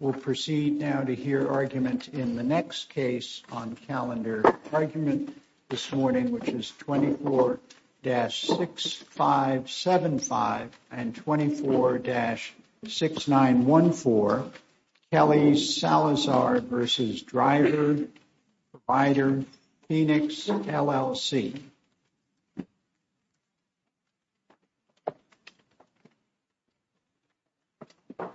We'll proceed now to hear argument in the next case on calendar argument this morning, which is 24-6575 and 24-6914 Kelly Salazar v. Driver Provider Phoenix, LLC. Okay. Okay.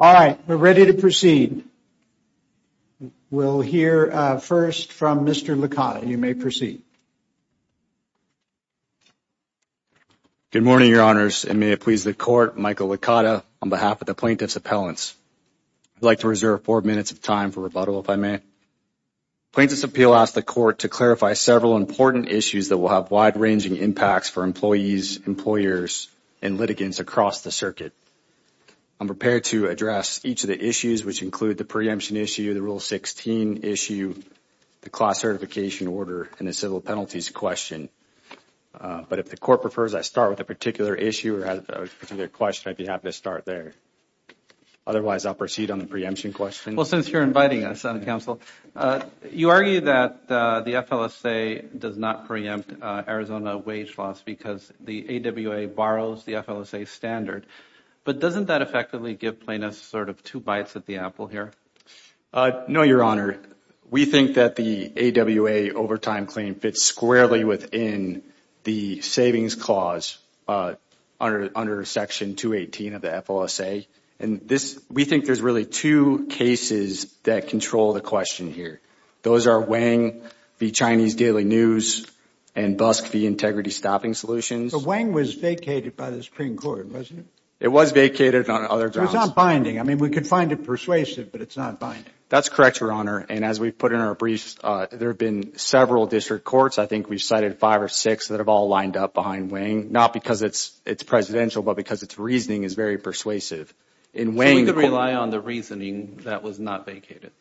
All right, we're ready to proceed. We'll hear first from Mr. Lakai. You may proceed. Good morning, Your Honors, and may it please the Court, Michael Licata on behalf of the Plaintiffs' Appellants. I'd like to reserve four minutes of time for rebuttal, if I may. Plaintiffs' Appeal asks the Court to clarify several important issues that will have wide-ranging impacts for employees, employers, and litigants across the circuit. I'm prepared to address each of the issues, which include the preemption issue, the Rule 16 issue, the class certification order, and the civil penalties question. But if the Court prefers I start with a particular issue or a particular question, I'd be happy to start there. Otherwise, I'll proceed on the preemption question. Well, since you're inviting us, Counsel, you argue that the FLSA does not preempt Arizona wage loss because the AWA borrows the FLSA standard. But doesn't that effectively give plaintiffs sort of two bites at the apple here? No, Your Honor. We think that the AWA overtime claim fits squarely within the savings clause under Section 218 of the FLSA. And we think there's really two cases that control the question here. Those are Wang v. Chinese Daily News and Busk v. Integrity Stopping Solutions. But Wang was vacated by the Supreme Court, wasn't it? It was vacated on other grounds. It was not binding. I mean, we could find it persuasive, but it's not binding. That's correct, Your Honor. And as we've put in our briefs, there have been several district courts. I think we've cited five or six that have all lined up behind Wang, not because it's presidential, but because its reasoning is very persuasive. So we could rely on the reasoning that was not vacated?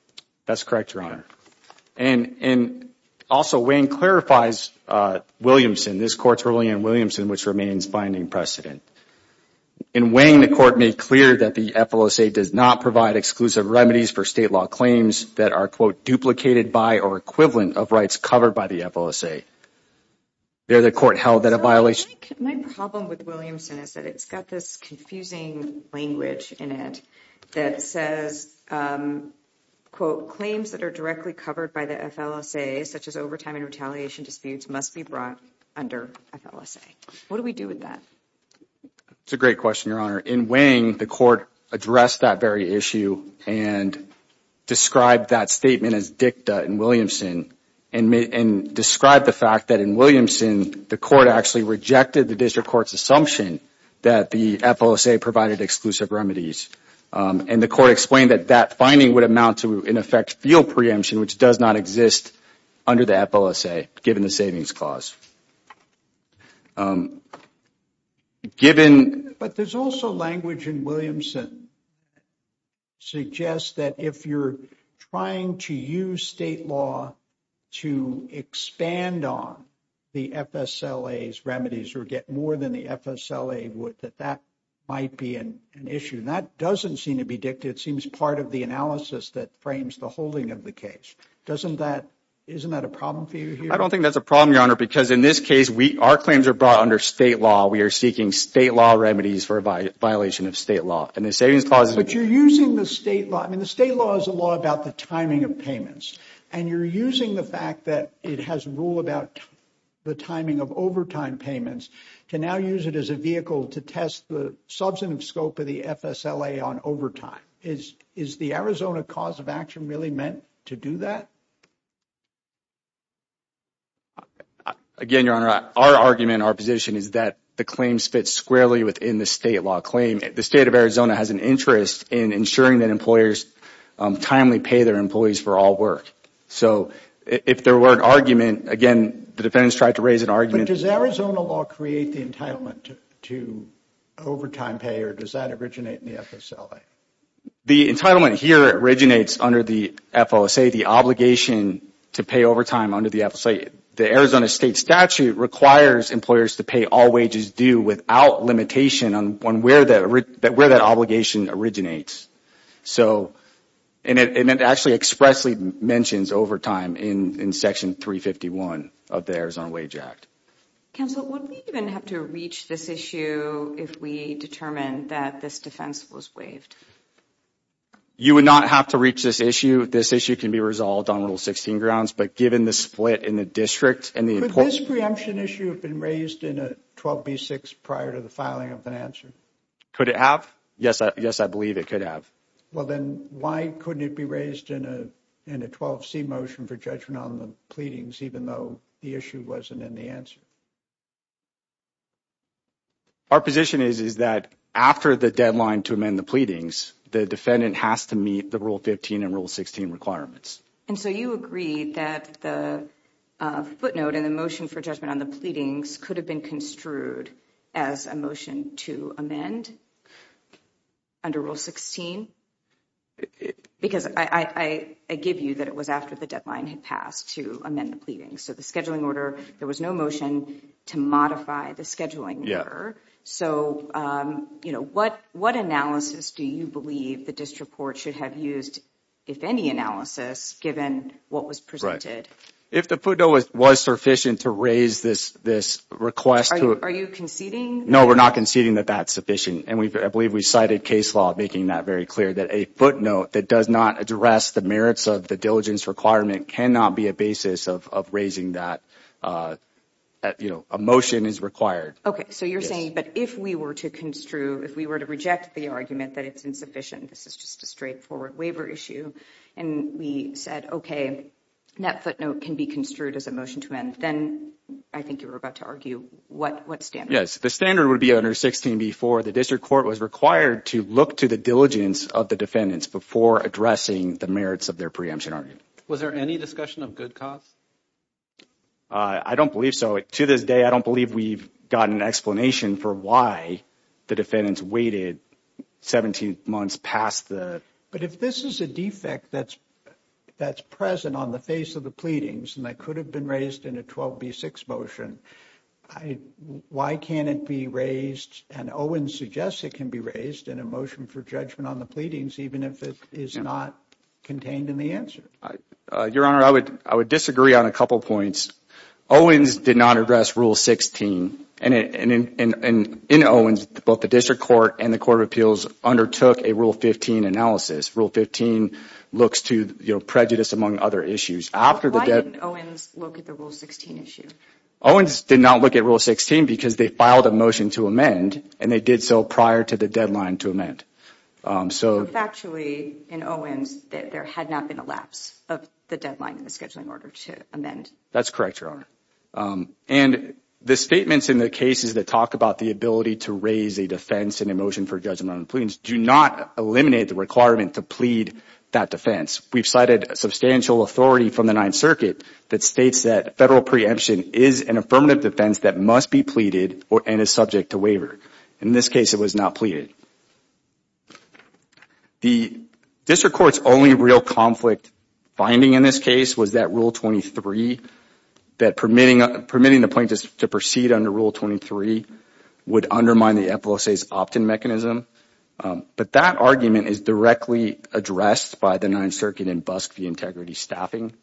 That's correct, Your Honor. And also, Wang clarifies Williamson. This Court's ruling on Williamson, which remains binding precedent. In Wang, the Court made clear that the FLSA does not provide exclusive remedies for state law claims that are, quote, duplicated by or equivalent of rights covered by the FLSA. There, the Court held that a violation… My problem with Williamson is that it's got this confusing language in it that says, quote, claims that are directly covered by the FLSA, such as overtime and retaliation disputes, must be brought under FLSA. What do we do with that? That's a great question, Your Honor. In Wang, the Court addressed that very issue and described that statement as dicta in Williamson and described the fact that in Williamson, the Court actually rejected the district court's assumption that the FLSA provided exclusive remedies. And the Court explained that that finding would amount to, in effect, field preemption, which does not exist under the FLSA, given the savings clause. Given… But there's also language in Williamson suggests that if you're trying to use state law to expand on the FSLA's remedies or get more than the FSLA would, that that might be an issue. That doesn't seem to be dicta. It seems part of the analysis that frames the holding of the case. Doesn't that… Isn't that a problem for you here? I don't think that's a problem, Your Honor, because in this case, our claims are brought under state law. We are seeking state law remedies for a violation of state law. And the savings clause is… But you're using the state law. I mean, the state law is a law about the timing of payments. And you're using the fact that it has rule about the timing of overtime payments to now use it as a vehicle to test the substantive scope of the FSLA on overtime. Is the Arizona cause of action really meant to do that? Again, Your Honor, our argument, our position is that the claims fit squarely within the state law claim. The state of Arizona has an interest in ensuring that employers timely pay their employees for all work. So if there were an argument, again, the defendants tried to raise an argument. Does Arizona law create the entitlement to overtime pay, or does that originate in the FSLA? The entitlement here originates under the FOSA, the obligation to pay overtime under the FOSA. The Arizona state statute requires employers to pay all wages due without limitation on where that obligation originates. And it actually expressly mentions overtime in Section 351 of the Arizona Wage Act. Counsel, would we even have to reach this issue if we determined that this defense was waived? You would not have to reach this issue. This issue can be resolved on Rule 16 grounds. But given the split in the district… Could this preemption issue have been raised in a 12B6 prior to the filing of an answer? Could it have? Yes, I believe it could have. Well, then why couldn't it be raised in a 12C motion for judgment on the pleadings, even though the issue wasn't in the answer? Our position is that after the deadline to amend the pleadings, the defendant has to meet the Rule 15 and Rule 16 requirements. And so you agree that the footnote in the motion for judgment on the pleadings could have been construed as a motion to amend? Under Rule 16? Because I give you that it was after the deadline had passed to amend the pleadings. So the scheduling order, there was no motion to modify the scheduling order. So, you know, what analysis do you believe the district court should have used, if any analysis, given what was presented? If the footnote was sufficient to raise this request… Are you conceding? No, we're not conceding that that's sufficient. And I believe we cited case law making that very clear, that a footnote that does not address the merits of the diligence requirement cannot be a basis of raising that, you know, a motion is required. Okay, so you're saying, but if we were to construe, if we were to reject the argument that it's insufficient, this is just a straightforward waiver issue, and we said, okay, that footnote can be construed as a motion to amend, then I think you were about to argue, what standard? Yes, the standard would be under 16b-4. The district court was required to look to the diligence of the defendants before addressing the merits of their preemption argument. Was there any discussion of good cause? I don't believe so. To this day, I don't believe we've gotten an explanation for why the defendants waited 17 months past the… If this is a defect that's present on the face of the pleadings and that could have been raised in a 12b-6 motion, why can't it be raised, and Owens suggests it can be raised, in a motion for judgment on the pleadings, even if it is not contained in the answer? Your Honor, I would disagree on a couple points. Owens did not address Rule 16, and in Owens, both the district court and the court of appeals undertook a Rule 15 analysis. Rule 15 looks to prejudice, among other issues. Why didn't Owens look at the Rule 16 issue? Owens did not look at Rule 16 because they filed a motion to amend, and they did so prior to the deadline to amend. So factually, in Owens, there had not been a lapse of the deadline in the scheduling order to amend? That's correct, Your Honor. And the statements in the cases that talk about the ability to raise a defense in a motion for judgment on the pleadings do not eliminate the requirement to plead that defense. We've cited substantial authority from the Ninth Circuit that states that federal preemption is an affirmative defense that must be pleaded and is subject to waiver. In this case, it was not pleaded. The district court's only real conflict finding in this case was that Rule 23, that permitting the plaintiffs to proceed under Rule 23 would undermine the FLSA's opt-in mechanism. But that argument is directly addressed by the Ninth Circuit in Busk v. Integrity Staffing.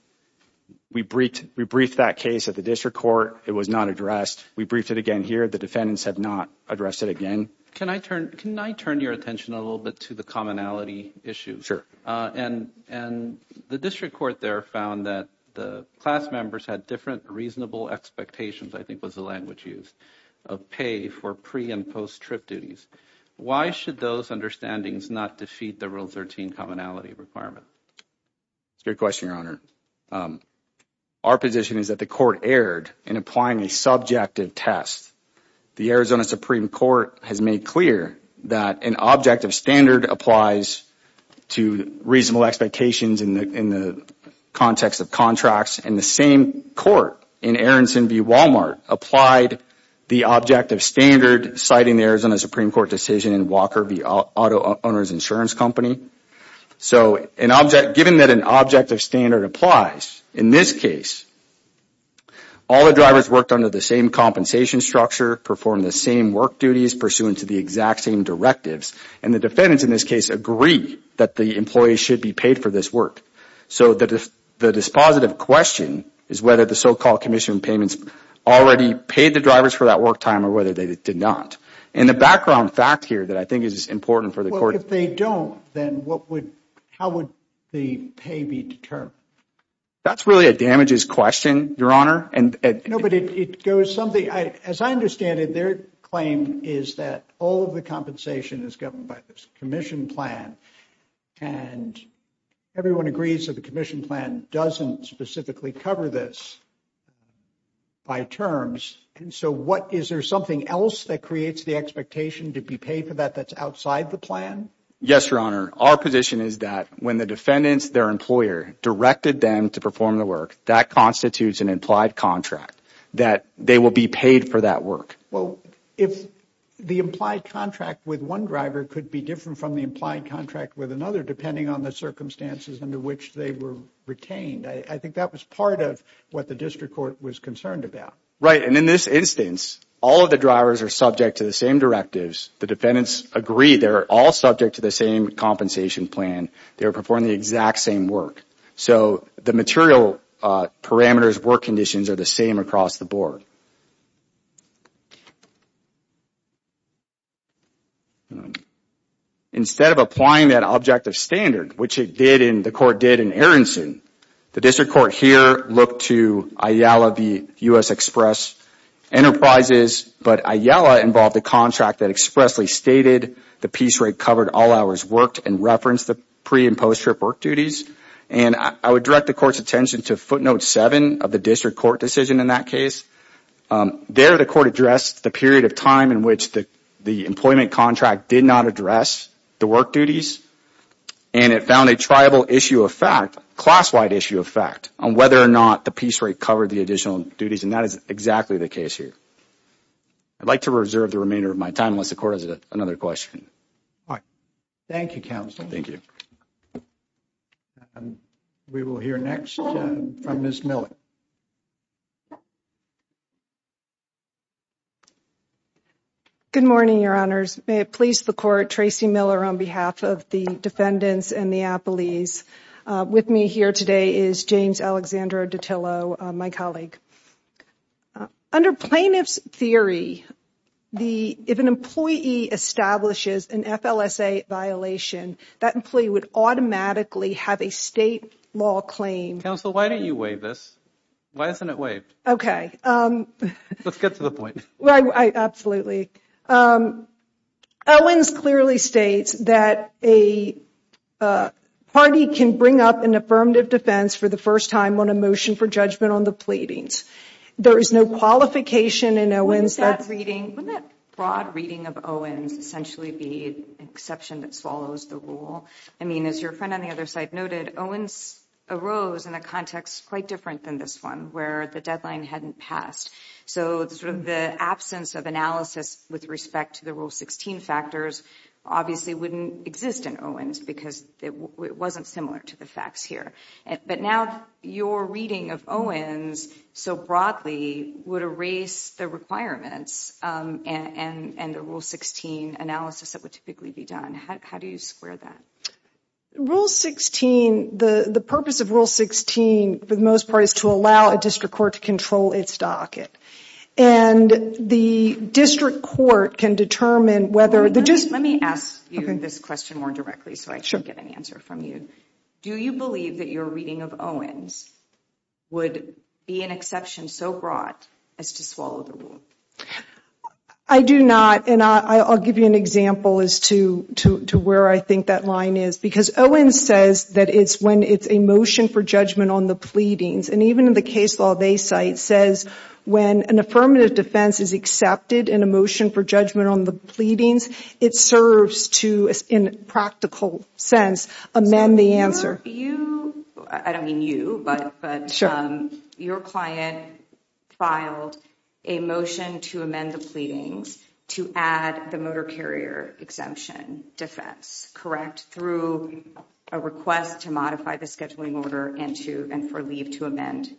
We briefed that case at the district court. It was not addressed. We briefed it again here. The defendants have not addressed it again. Can I turn your attention a little bit to the commonality issue? And the district court there found that the class members had different reasonable expectations, I think was the language used, of pay for pre- and post-trip duties. Why should those understandings not defeat the Rule 13 commonality requirement? Good question, Your Honor. Our position is that the court erred in applying a subjective test. The Arizona Supreme Court has made clear that an objective standard applies to reasonable expectations in the context of contracts. And the same court in Aronson v. Walmart applied the objective standard citing the Arizona Supreme Court decision in Walker v. Auto Owners Insurance Company. So given that an objective standard applies, in this case, all the drivers worked under the same compensation structure, performed the same work duties pursuant to the exact same directives, and the defendants in this case agree that the employees should be paid for this work. So the dispositive question is whether the so-called commission payments already paid the drivers for that work time or whether they did not. And the background fact here that I think is important for the court... Well, if they don't, then how would the pay be determined? That's really a damages question, Your Honor. No, but it goes something... As I understand it, their claim is that all of the compensation is governed by this commission plan. And everyone agrees that the commission plan doesn't specifically cover this by terms. And so what... Is there something else that creates the expectation to be paid for that that's outside the plan? Yes, Your Honor. Our position is that when the defendants, their employer, directed them to perform the work, that constitutes an implied contract that they will be paid for that work. Well, if the implied contract with one driver could be different from the implied contract with another depending on the circumstances under which they were retained, I think that was part of what the district court was concerned about. Right. And in this instance, all of the drivers are subject to the same directives. The defendants agree they're all subject to the same compensation plan. They're performing the exact same work. So the material parameters, work conditions are the same across the board. Instead of applying that objective standard, which the court did in Aronson, the district court here looked to IALA v. U.S. Express Enterprises. But IALA involved a contract that expressly stated the piece rate covered all hours worked and referenced the pre- and post-trip work duties. And I would direct the court's attention to footnote 7 of the district court decision in that case. There, the court addressed the period of time in which the employment contract did not address the work duties. And it found a tribal issue of fact, class-wide issue of fact, on whether or not the piece rate covered the additional duties. And that is exactly the case here. I'd like to reserve the remainder of my time unless the court has another question. All right. Thank you, counsel. Thank you. We will hear next from Ms. Miller. Good morning, Your Honors. May it please the court, Tracy Miller on behalf of the defendants and the appellees. With me here today is James Alexandra Ditillo, my colleague. Under plaintiff's theory, if an employee establishes an FLSA violation, that employee would automatically have a state law claim. Counsel, why don't you waive this? Why isn't it waived? Okay. Let's get to the point. Absolutely. Owens clearly states that a party can bring up an affirmative defense for the first time on a motion for judgment on the pleadings. There is no qualification in Owens that's reading. Wouldn't that broad reading of Owens essentially be an exception that swallows the rule? I mean, as your friend on the other side noted, Owens arose in a context quite different than this one where the deadline hadn't passed. So the absence of analysis with respect to the Rule 16 factors obviously wouldn't exist in Owens because it wasn't similar to the facts here. But now your reading of Owens so broadly would erase the requirements and the Rule 16 analysis that would typically be done. How do you square that? Rule 16, the purpose of Rule 16, for the most part, is to allow a district court to control its docket. And the district court can determine whether... Let me ask you this question more directly so I can get an answer from you. Do you believe that your reading of Owens would be an exception so broad as to swallow the rule? I do not, and I'll give you an example as to where I think that line is. Because Owens says that it's when it's a motion for judgment on the pleadings. And even the case law they cite says when an affirmative defense is accepted in a motion for judgment on the pleadings, it serves to, in a practical sense, amend the answer. I don't mean you, but your client filed a motion to amend the pleadings to add the motor carrier exemption defense. Through a request to modify the scheduling order and for leave to amend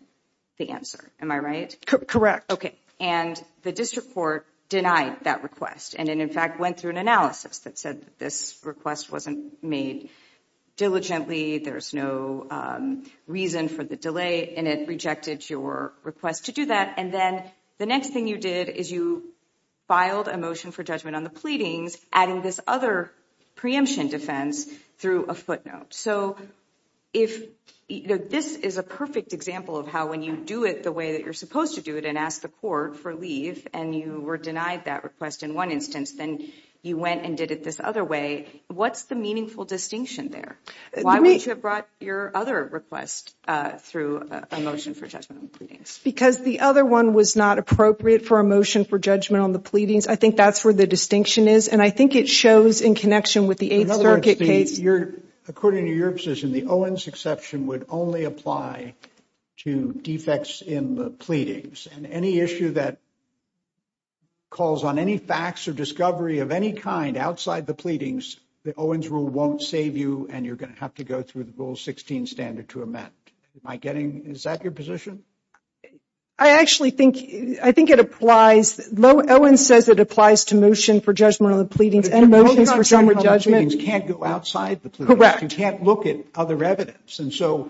the answer. Am I right? Correct. Okay. And the district court denied that request. And it, in fact, went through an analysis that said this request wasn't made diligently. There's no reason for the delay. And it rejected your request to do that. And then the next thing you did is you filed a motion for judgment on the pleadings, adding this other preemption defense through a footnote. So if this is a perfect example of how when you do it the way that you're supposed to do it and ask the court for leave, and you were denied that request in one instance, then you went and did it this other way. What's the meaningful distinction there? Why would you have brought your other request through a motion for judgment on the pleadings? Because the other one was not appropriate for a motion for judgment on the pleadings. I think that's where the distinction is. And I think it shows in connection with the Eighth Circuit case. According to your position, the Owens exception would only apply to defects in the pleadings. And any issue that calls on any facts or discovery of any kind outside the pleadings, the Owens rule won't save you, and you're going to have to go through the Rule 16 standard to amend. Is that your position? I actually think it applies. Owens says it applies to motion for judgment on the pleadings and motions for general judgment. Motion for judgment on the pleadings can't go outside the pleadings. Correct. You can't look at other evidence. And so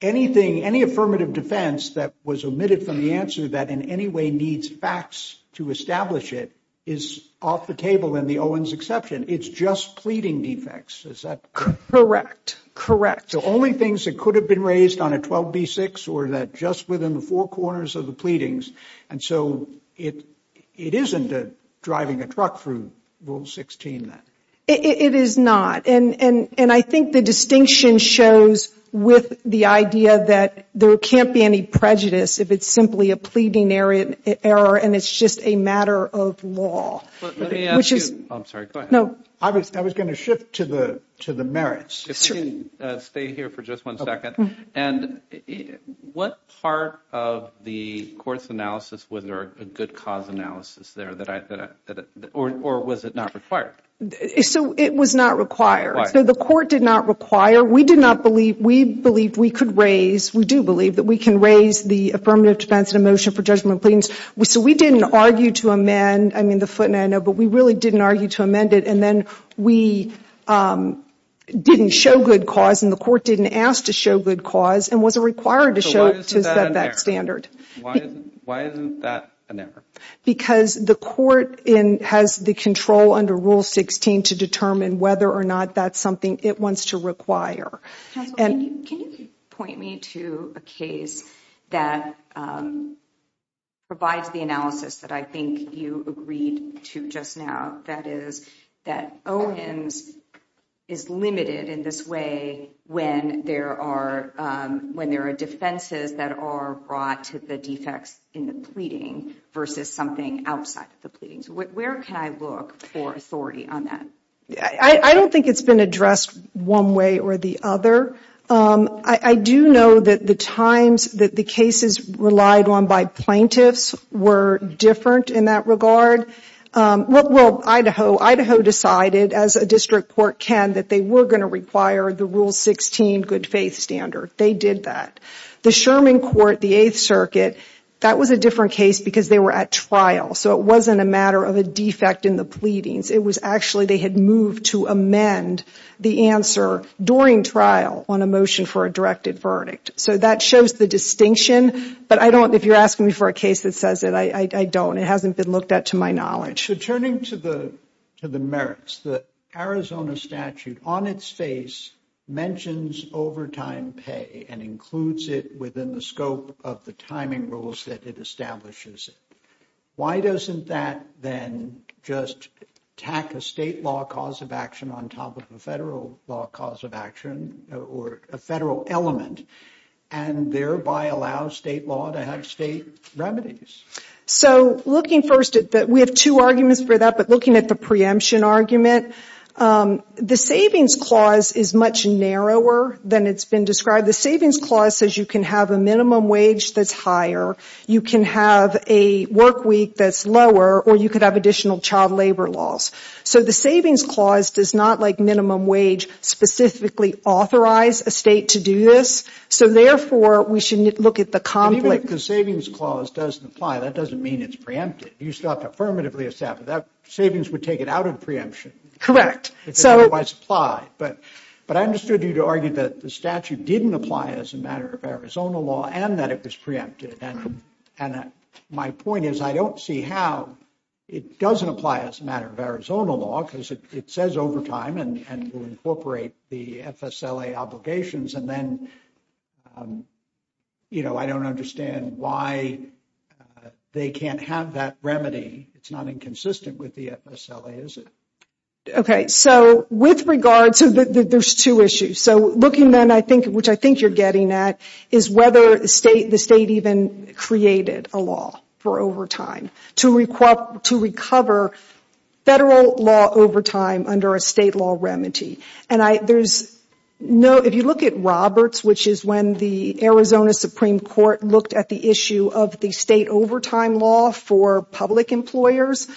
anything, any affirmative defense that was omitted from the answer that in any way needs facts to establish it is off the table in the Owens exception. It's just pleading defects. Is that correct? Correct. The only things that could have been raised on a 12B6 were that just within the four corners of the pleadings. And so it isn't driving a truck through Rule 16 then. It is not. And I think the distinction shows with the idea that there can't be any prejudice if it's simply a pleading error and it's just a matter of law. Let me ask you. I'm sorry. Go ahead. I was going to shift to the merits. Stay here for just one second. And what part of the court's analysis was there a good cause analysis there or was it not required? So it was not required. So the court did not require. We did not believe. We believed we could raise. We do believe that we can raise the affirmative defense in a motion for judgment of pleadings. So we didn't argue to amend. I mean, the footnote, I know. But we really didn't argue to amend it. And then we didn't show good cause and the court didn't ask to show good cause and wasn't required to show that standard. Why isn't that an error? Because the court has the control under Rule 16 to determine whether or not that's something it wants to require. Can you point me to a case that provides the analysis that I think you agreed to just now? That is that Owens is limited in this way when there are defenses that are brought to the defects in the pleading versus something outside of the pleadings. Where can I look for authority on that? I don't think it's been addressed one way or the other. I do know that the times that the cases relied on by plaintiffs were different in that regard. Well, Idaho decided, as a district court can, that they were going to require the Rule 16 good faith standard. They did that. The Sherman Court, the Eighth Circuit, that was a different case because they were at trial. So it wasn't a matter of a defect in the pleadings. It was actually they had moved to amend the answer during trial on a motion for a directed verdict. So that shows the distinction. But if you're asking me for a case that says it, I don't. It hasn't been looked at to my knowledge. So turning to the merits, the Arizona statute on its face mentions overtime pay and includes it within the scope of the timing rules that it establishes. Why doesn't that then just tack a state law cause of action on top of a federal law cause of action or a federal element and thereby allow state law to have state remedies? So looking first at that, we have two arguments for that. But looking at the preemption argument, the savings clause is much narrower than it's been described. The savings clause says you can have a minimum wage that's higher. You can have a work week that's lower. Or you could have additional child labor laws. So the savings clause does not, like minimum wage, specifically authorize a state to do this. So, therefore, we should look at the conflict. And even if the savings clause doesn't apply, that doesn't mean it's preempted. You still have to affirmatively establish that savings would take it out of preemption. Correct. It doesn't otherwise apply. But I understood you to argue that the statute didn't apply as a matter of Arizona law and that it was preempted. And my point is I don't see how it doesn't apply as a matter of Arizona law because it says overtime and will incorporate the FSLA obligations. And then, you know, I don't understand why they can't have that remedy. It's not inconsistent with the FSLA, is it? Okay. So with regard to the – there's two issues. So looking then, I think, which I think you're getting at, is whether the state even created a law for overtime to recover federal law overtime under a state law remedy. And there's no – if you look at Roberts, which is when the Arizona Supreme Court looked at the issue of the state overtime law for public employers,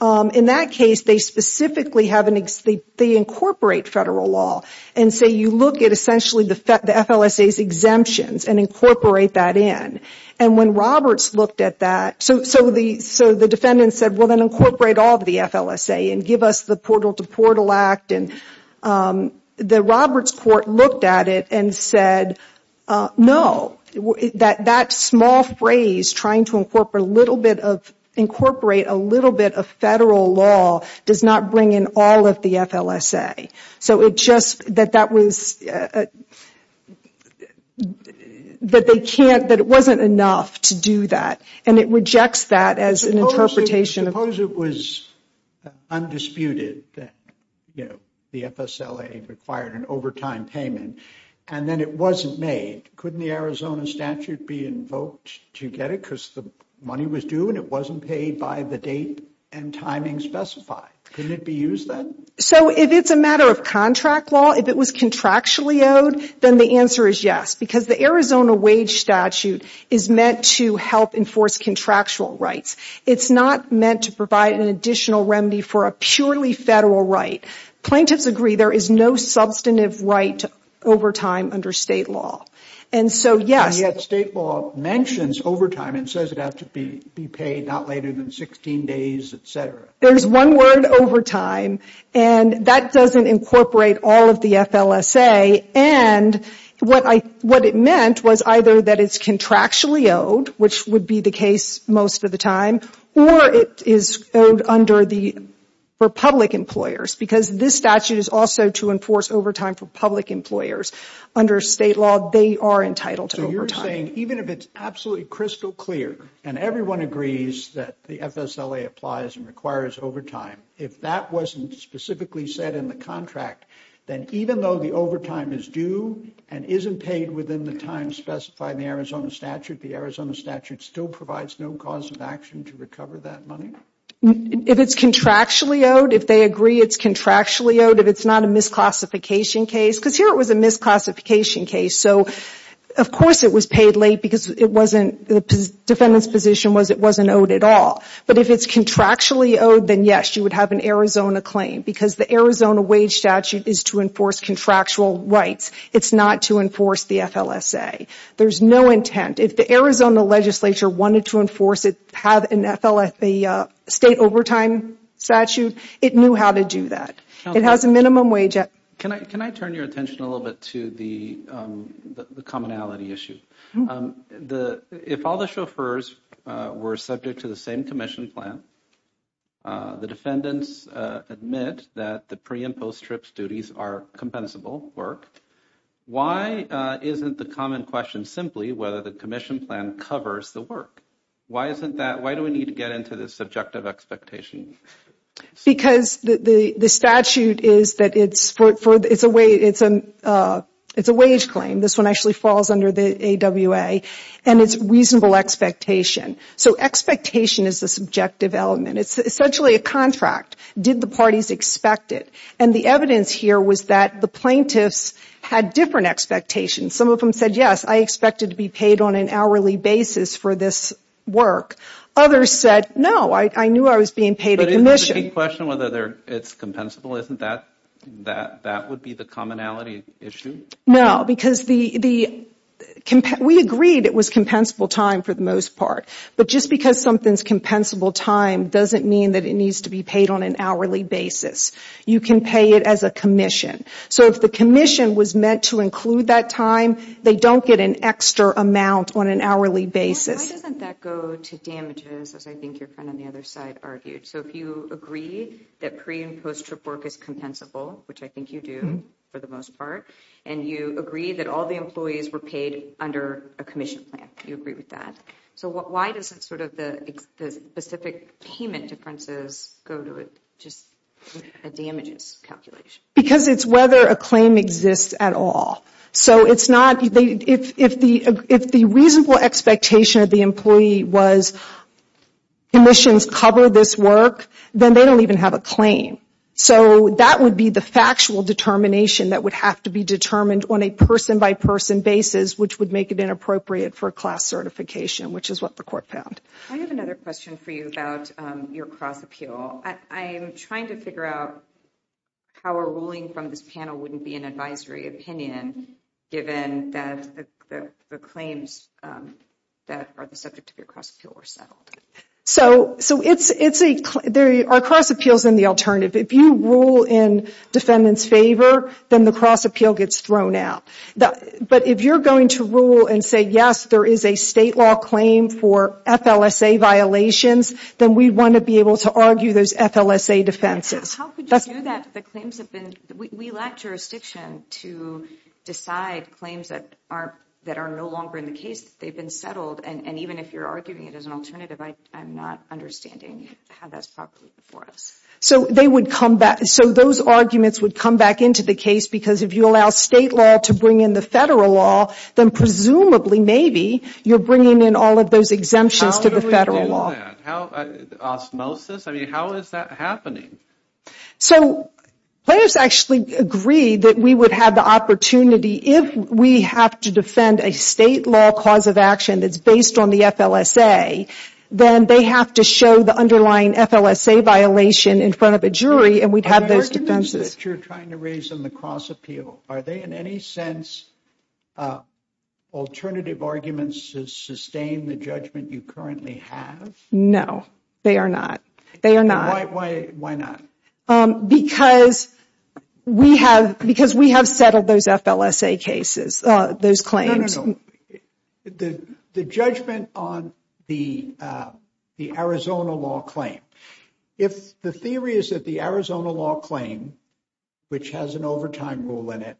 in that case, they specifically have an – they incorporate federal law. And so you look at essentially the FLSA's exemptions and incorporate that in. And when Roberts looked at that – so the defendants said, well, then incorporate all of the FLSA and give us the Portal to Portal Act. And the Roberts court looked at it and said, no, that small phrase, trying to incorporate a little bit of federal law, does not bring in all of the FLSA. So it just – that that was – that they can't – that it wasn't enough to do that. And it rejects that as an interpretation of – required an overtime payment. And then it wasn't made. Couldn't the Arizona statute be invoked to get it because the money was due and it wasn't paid by the date and timing specified? Couldn't it be used then? So if it's a matter of contract law, if it was contractually owed, then the answer is yes. Because the Arizona wage statute is meant to help enforce contractual rights. It's not meant to provide an additional remedy for a purely federal right. Plaintiffs agree there is no substantive right to overtime under state law. And so, yes – And yet state law mentions overtime and says it has to be paid not later than 16 days, et cetera. There's one word, overtime, and that doesn't incorporate all of the FLSA. And what I – what it meant was either that it's contractually owed, which would be the case most of the time, or it is owed under the – for public employers. Because this statute is also to enforce overtime for public employers. Under state law, they are entitled to overtime. So you're saying even if it's absolutely crystal clear and everyone agrees that the FSLA applies and requires overtime, if that wasn't specifically said in the contract, then even though the overtime is due and isn't paid within the time specified in the Arizona statute, the Arizona statute still provides no cause of action to recover that money? If it's contractually owed, if they agree it's contractually owed, if it's not a misclassification case – because here it was a misclassification case, so of course it was paid late because it wasn't – the defendant's position was it wasn't owed at all. But if it's contractually owed, then yes, you would have an Arizona claim. Because the Arizona wage statute is to enforce contractual rights. It's not to enforce the FLSA. There's no intent. If the Arizona legislature wanted to enforce it, have an FLSA state overtime statute, it knew how to do that. It has a minimum wage. Can I turn your attention a little bit to the commonality issue? If all the chauffeurs were subject to the same commission plan, the defendants admit that the pre- and post-trip duties are compensable work, why isn't the common question simply whether the commission plan covers the work? Why isn't that – why do we need to get into this subjective expectation? Because the statute is that it's a wage claim. This one actually falls under the AWA, and it's reasonable expectation. So expectation is the subjective element. It's essentially a contract. Did the parties expect it? And the evidence here was that the plaintiffs had different expectations. Some of them said, yes, I expected to be paid on an hourly basis for this work. Others said, no, I knew I was being paid a commission. But isn't the big question whether it's compensable, isn't that – that would be the commonality issue? No, because the – we agreed it was compensable time for the most part. But just because something's compensable time doesn't mean that it needs to be paid on an hourly basis. You can pay it as a commission. So if the commission was meant to include that time, they don't get an extra amount on an hourly basis. Why doesn't that go to damages, as I think your friend on the other side argued? So if you agree that pre- and post-trip work is compensable, which I think you do for the most part, and you agree that all the employees were paid under a commission plan, you agree with that. So why doesn't sort of the specific payment differences go to just a damages calculation? Because it's whether a claim exists at all. So it's not – if the reasonable expectation of the employee was commissions cover this work, then they don't even have a claim. So that would be the factual determination that would have to be determined on a person-by-person basis, which would make it inappropriate for a class certification, which is what the court found. I have another question for you about your cross-appeal. I am trying to figure out how a ruling from this panel wouldn't be an advisory opinion, given that the claims that are the subject of your cross-appeal were settled. So it's a – there are cross-appeals and the alternative. If you rule in defendant's favor, then the cross-appeal gets thrown out. But if you're going to rule and say, yes, there is a state law claim for FLSA violations, then we want to be able to argue those FLSA defenses. How could you do that? The claims have been – we lack jurisdiction to decide claims that are no longer in the case. They've been settled, and even if you're arguing it as an alternative, I'm not understanding how that's properly before us. So they would come back – so those arguments would come back into the case because if you allow state law to bring in the federal law, then presumably, maybe, you're bringing in all of those exemptions to the federal law. How do we do that? Osmosis? I mean, how is that happening? So players actually agree that we would have the opportunity, if we have to defend a state law cause of action that's based on the FLSA, then they have to show the underlying FLSA violation in front of a jury, and we'd have those defenses. The arguments that you're trying to raise in the cross-appeal, are they in any sense alternative arguments to sustain the judgment you currently have? No, they are not. They are not. Why not? Because we have settled those FLSA cases, those claims. No, no, no. The judgment on the Arizona law claim. If the theory is that the Arizona law claim, which has an overtime rule in it,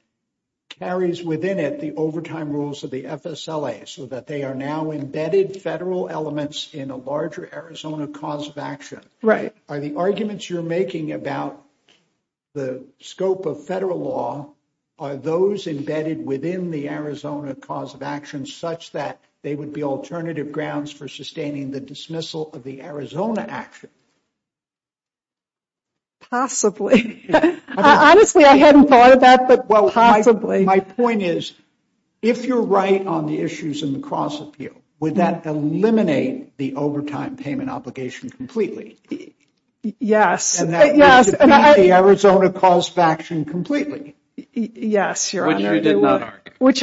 carries within it the overtime rules of the FSLA, so that they are now embedded federal elements in a larger Arizona cause of action, are the arguments you're making about the scope of federal law, are those embedded within the Arizona cause of action, such that they would be alternative grounds for sustaining the dismissal of the Arizona action? Possibly. Honestly, I hadn't thought of that, but possibly. My point is, if you're right on the issues in the cross-appeal, would that eliminate the overtime payment obligation completely? Yes. And that would defeat the Arizona cause of action completely. Yes, Your Honor. Which you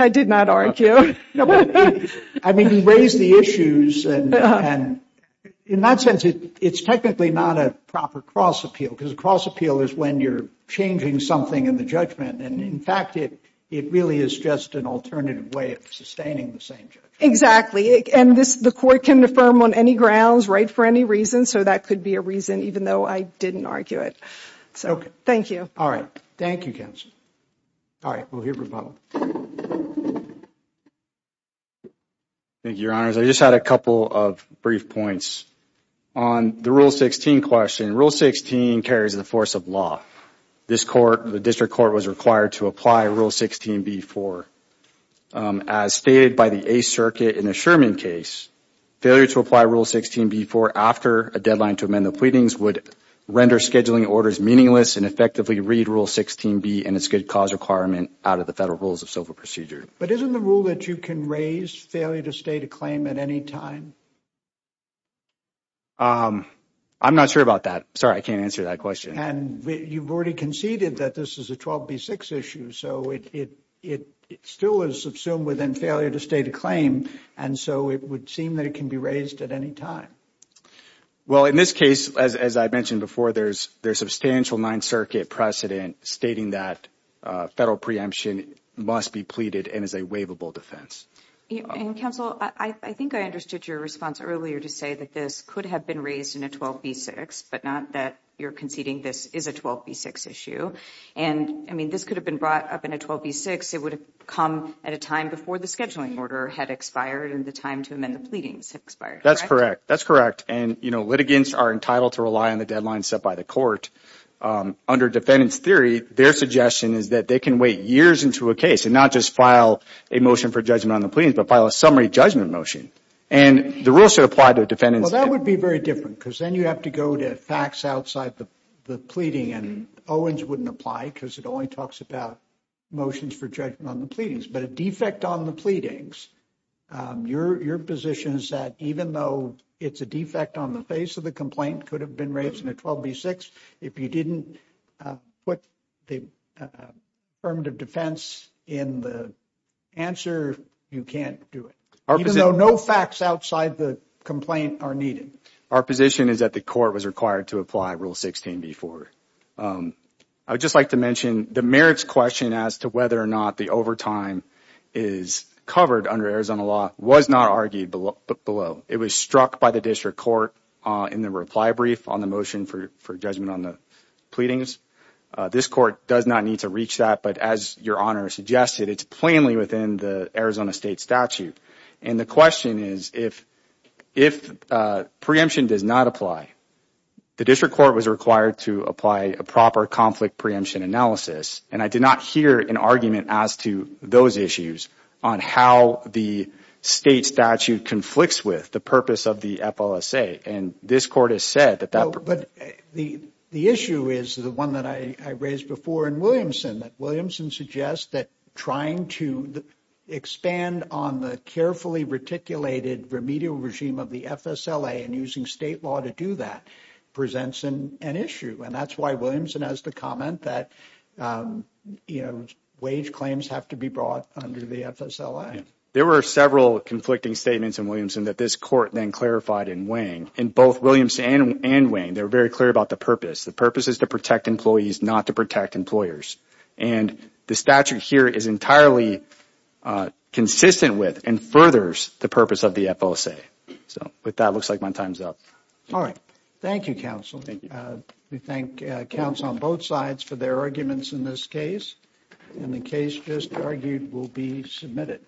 did not argue. I mean, you raised the issues. And in that sense, it's technically not a proper cross-appeal, because a cross-appeal is when you're changing something in the judgment. And in fact, it really is just an alternative way of sustaining the same judgment. Exactly. And the court can affirm on any grounds, right, for any reason. So that could be a reason, even though I didn't argue it. So, thank you. All right. Thank you, counsel. All right. We'll hear from both. Thank you, Your Honors. I just had a couple of brief points. On the Rule 16 question, Rule 16 carries the force of law. This court, the district court, was required to apply Rule 16b-4. As stated by the Eighth Circuit in the Sherman case, failure to apply Rule 16b-4 after a deadline to amend the pleadings would render scheduling orders meaningless and effectively read Rule 16b and its good cause requirement out of the Federal Rules of Civil Procedure. But isn't the rule that you can raise failure to state a claim at any time? I'm not sure about that. Sorry, I can't answer that question. And you've already conceded that this is a 12b-6 issue, so it still is subsumed within failure to state a claim, and so it would seem that it can be raised at any time. Well, in this case, as I mentioned before, there's substantial Ninth Circuit precedent stating that Federal preemption must be pleaded and is a waivable defense. And, Counsel, I think I understood your response earlier to say that this could have been raised in a 12b-6, but not that you're conceding this is a 12b-6 issue. And, I mean, this could have been brought up in a 12b-6. It would have come at a time before the scheduling order had expired and the time to amend the pleadings had expired. That's correct. That's correct. And, you know, litigants are entitled to rely on the deadline set by the court. Under defendant's theory, their suggestion is that they can wait years into a case and not just file a motion for judgment on the pleadings, but file a summary judgment motion. And the rule should apply to a defendant's case. Well, that would be very different because then you have to go to facts outside the pleading, and Owens wouldn't apply because it only talks about motions for judgment on the pleadings. But a defect on the pleadings, your position is that even though it's a defect on the face of the complaint, could have been raised in a 12b-6, if you didn't put the affirmative defense in the answer, you can't do it. Even though no facts outside the complaint are needed. Our position is that the court was required to apply Rule 16b-4. I would just like to mention the merits question as to whether or not the overtime is covered under Arizona law was not argued below. It was struck by the district court in the reply brief on the motion for judgment on the pleadings. This court does not need to reach that, but as your Honor suggested, it's plainly within the Arizona state statute. And the question is, if preemption does not apply, the district court was required to apply a proper conflict preemption analysis, and I did not hear an argument as to those issues on how the state statute conflicts with the purpose of the FLSA. And this court has said that... But the issue is the one that I raised before in Williamson, that Williamson suggests that trying to expand on the carefully reticulated remedial regime of the FSLA and using state law to do that presents an issue. And that's why Williamson has the comment that, you know, There were several conflicting statements in Williamson that this court then clarified in Wang. In both Williamson and Wang, they were very clear about the purpose. The purpose is to protect employees, not to protect employers. And the statute here is entirely consistent with and furthers the purpose of the FLSA. So with that, it looks like my time's up. All right. Thank you, counsel. We thank counsel on both sides for their arguments in this case. And the case just argued will be submitted.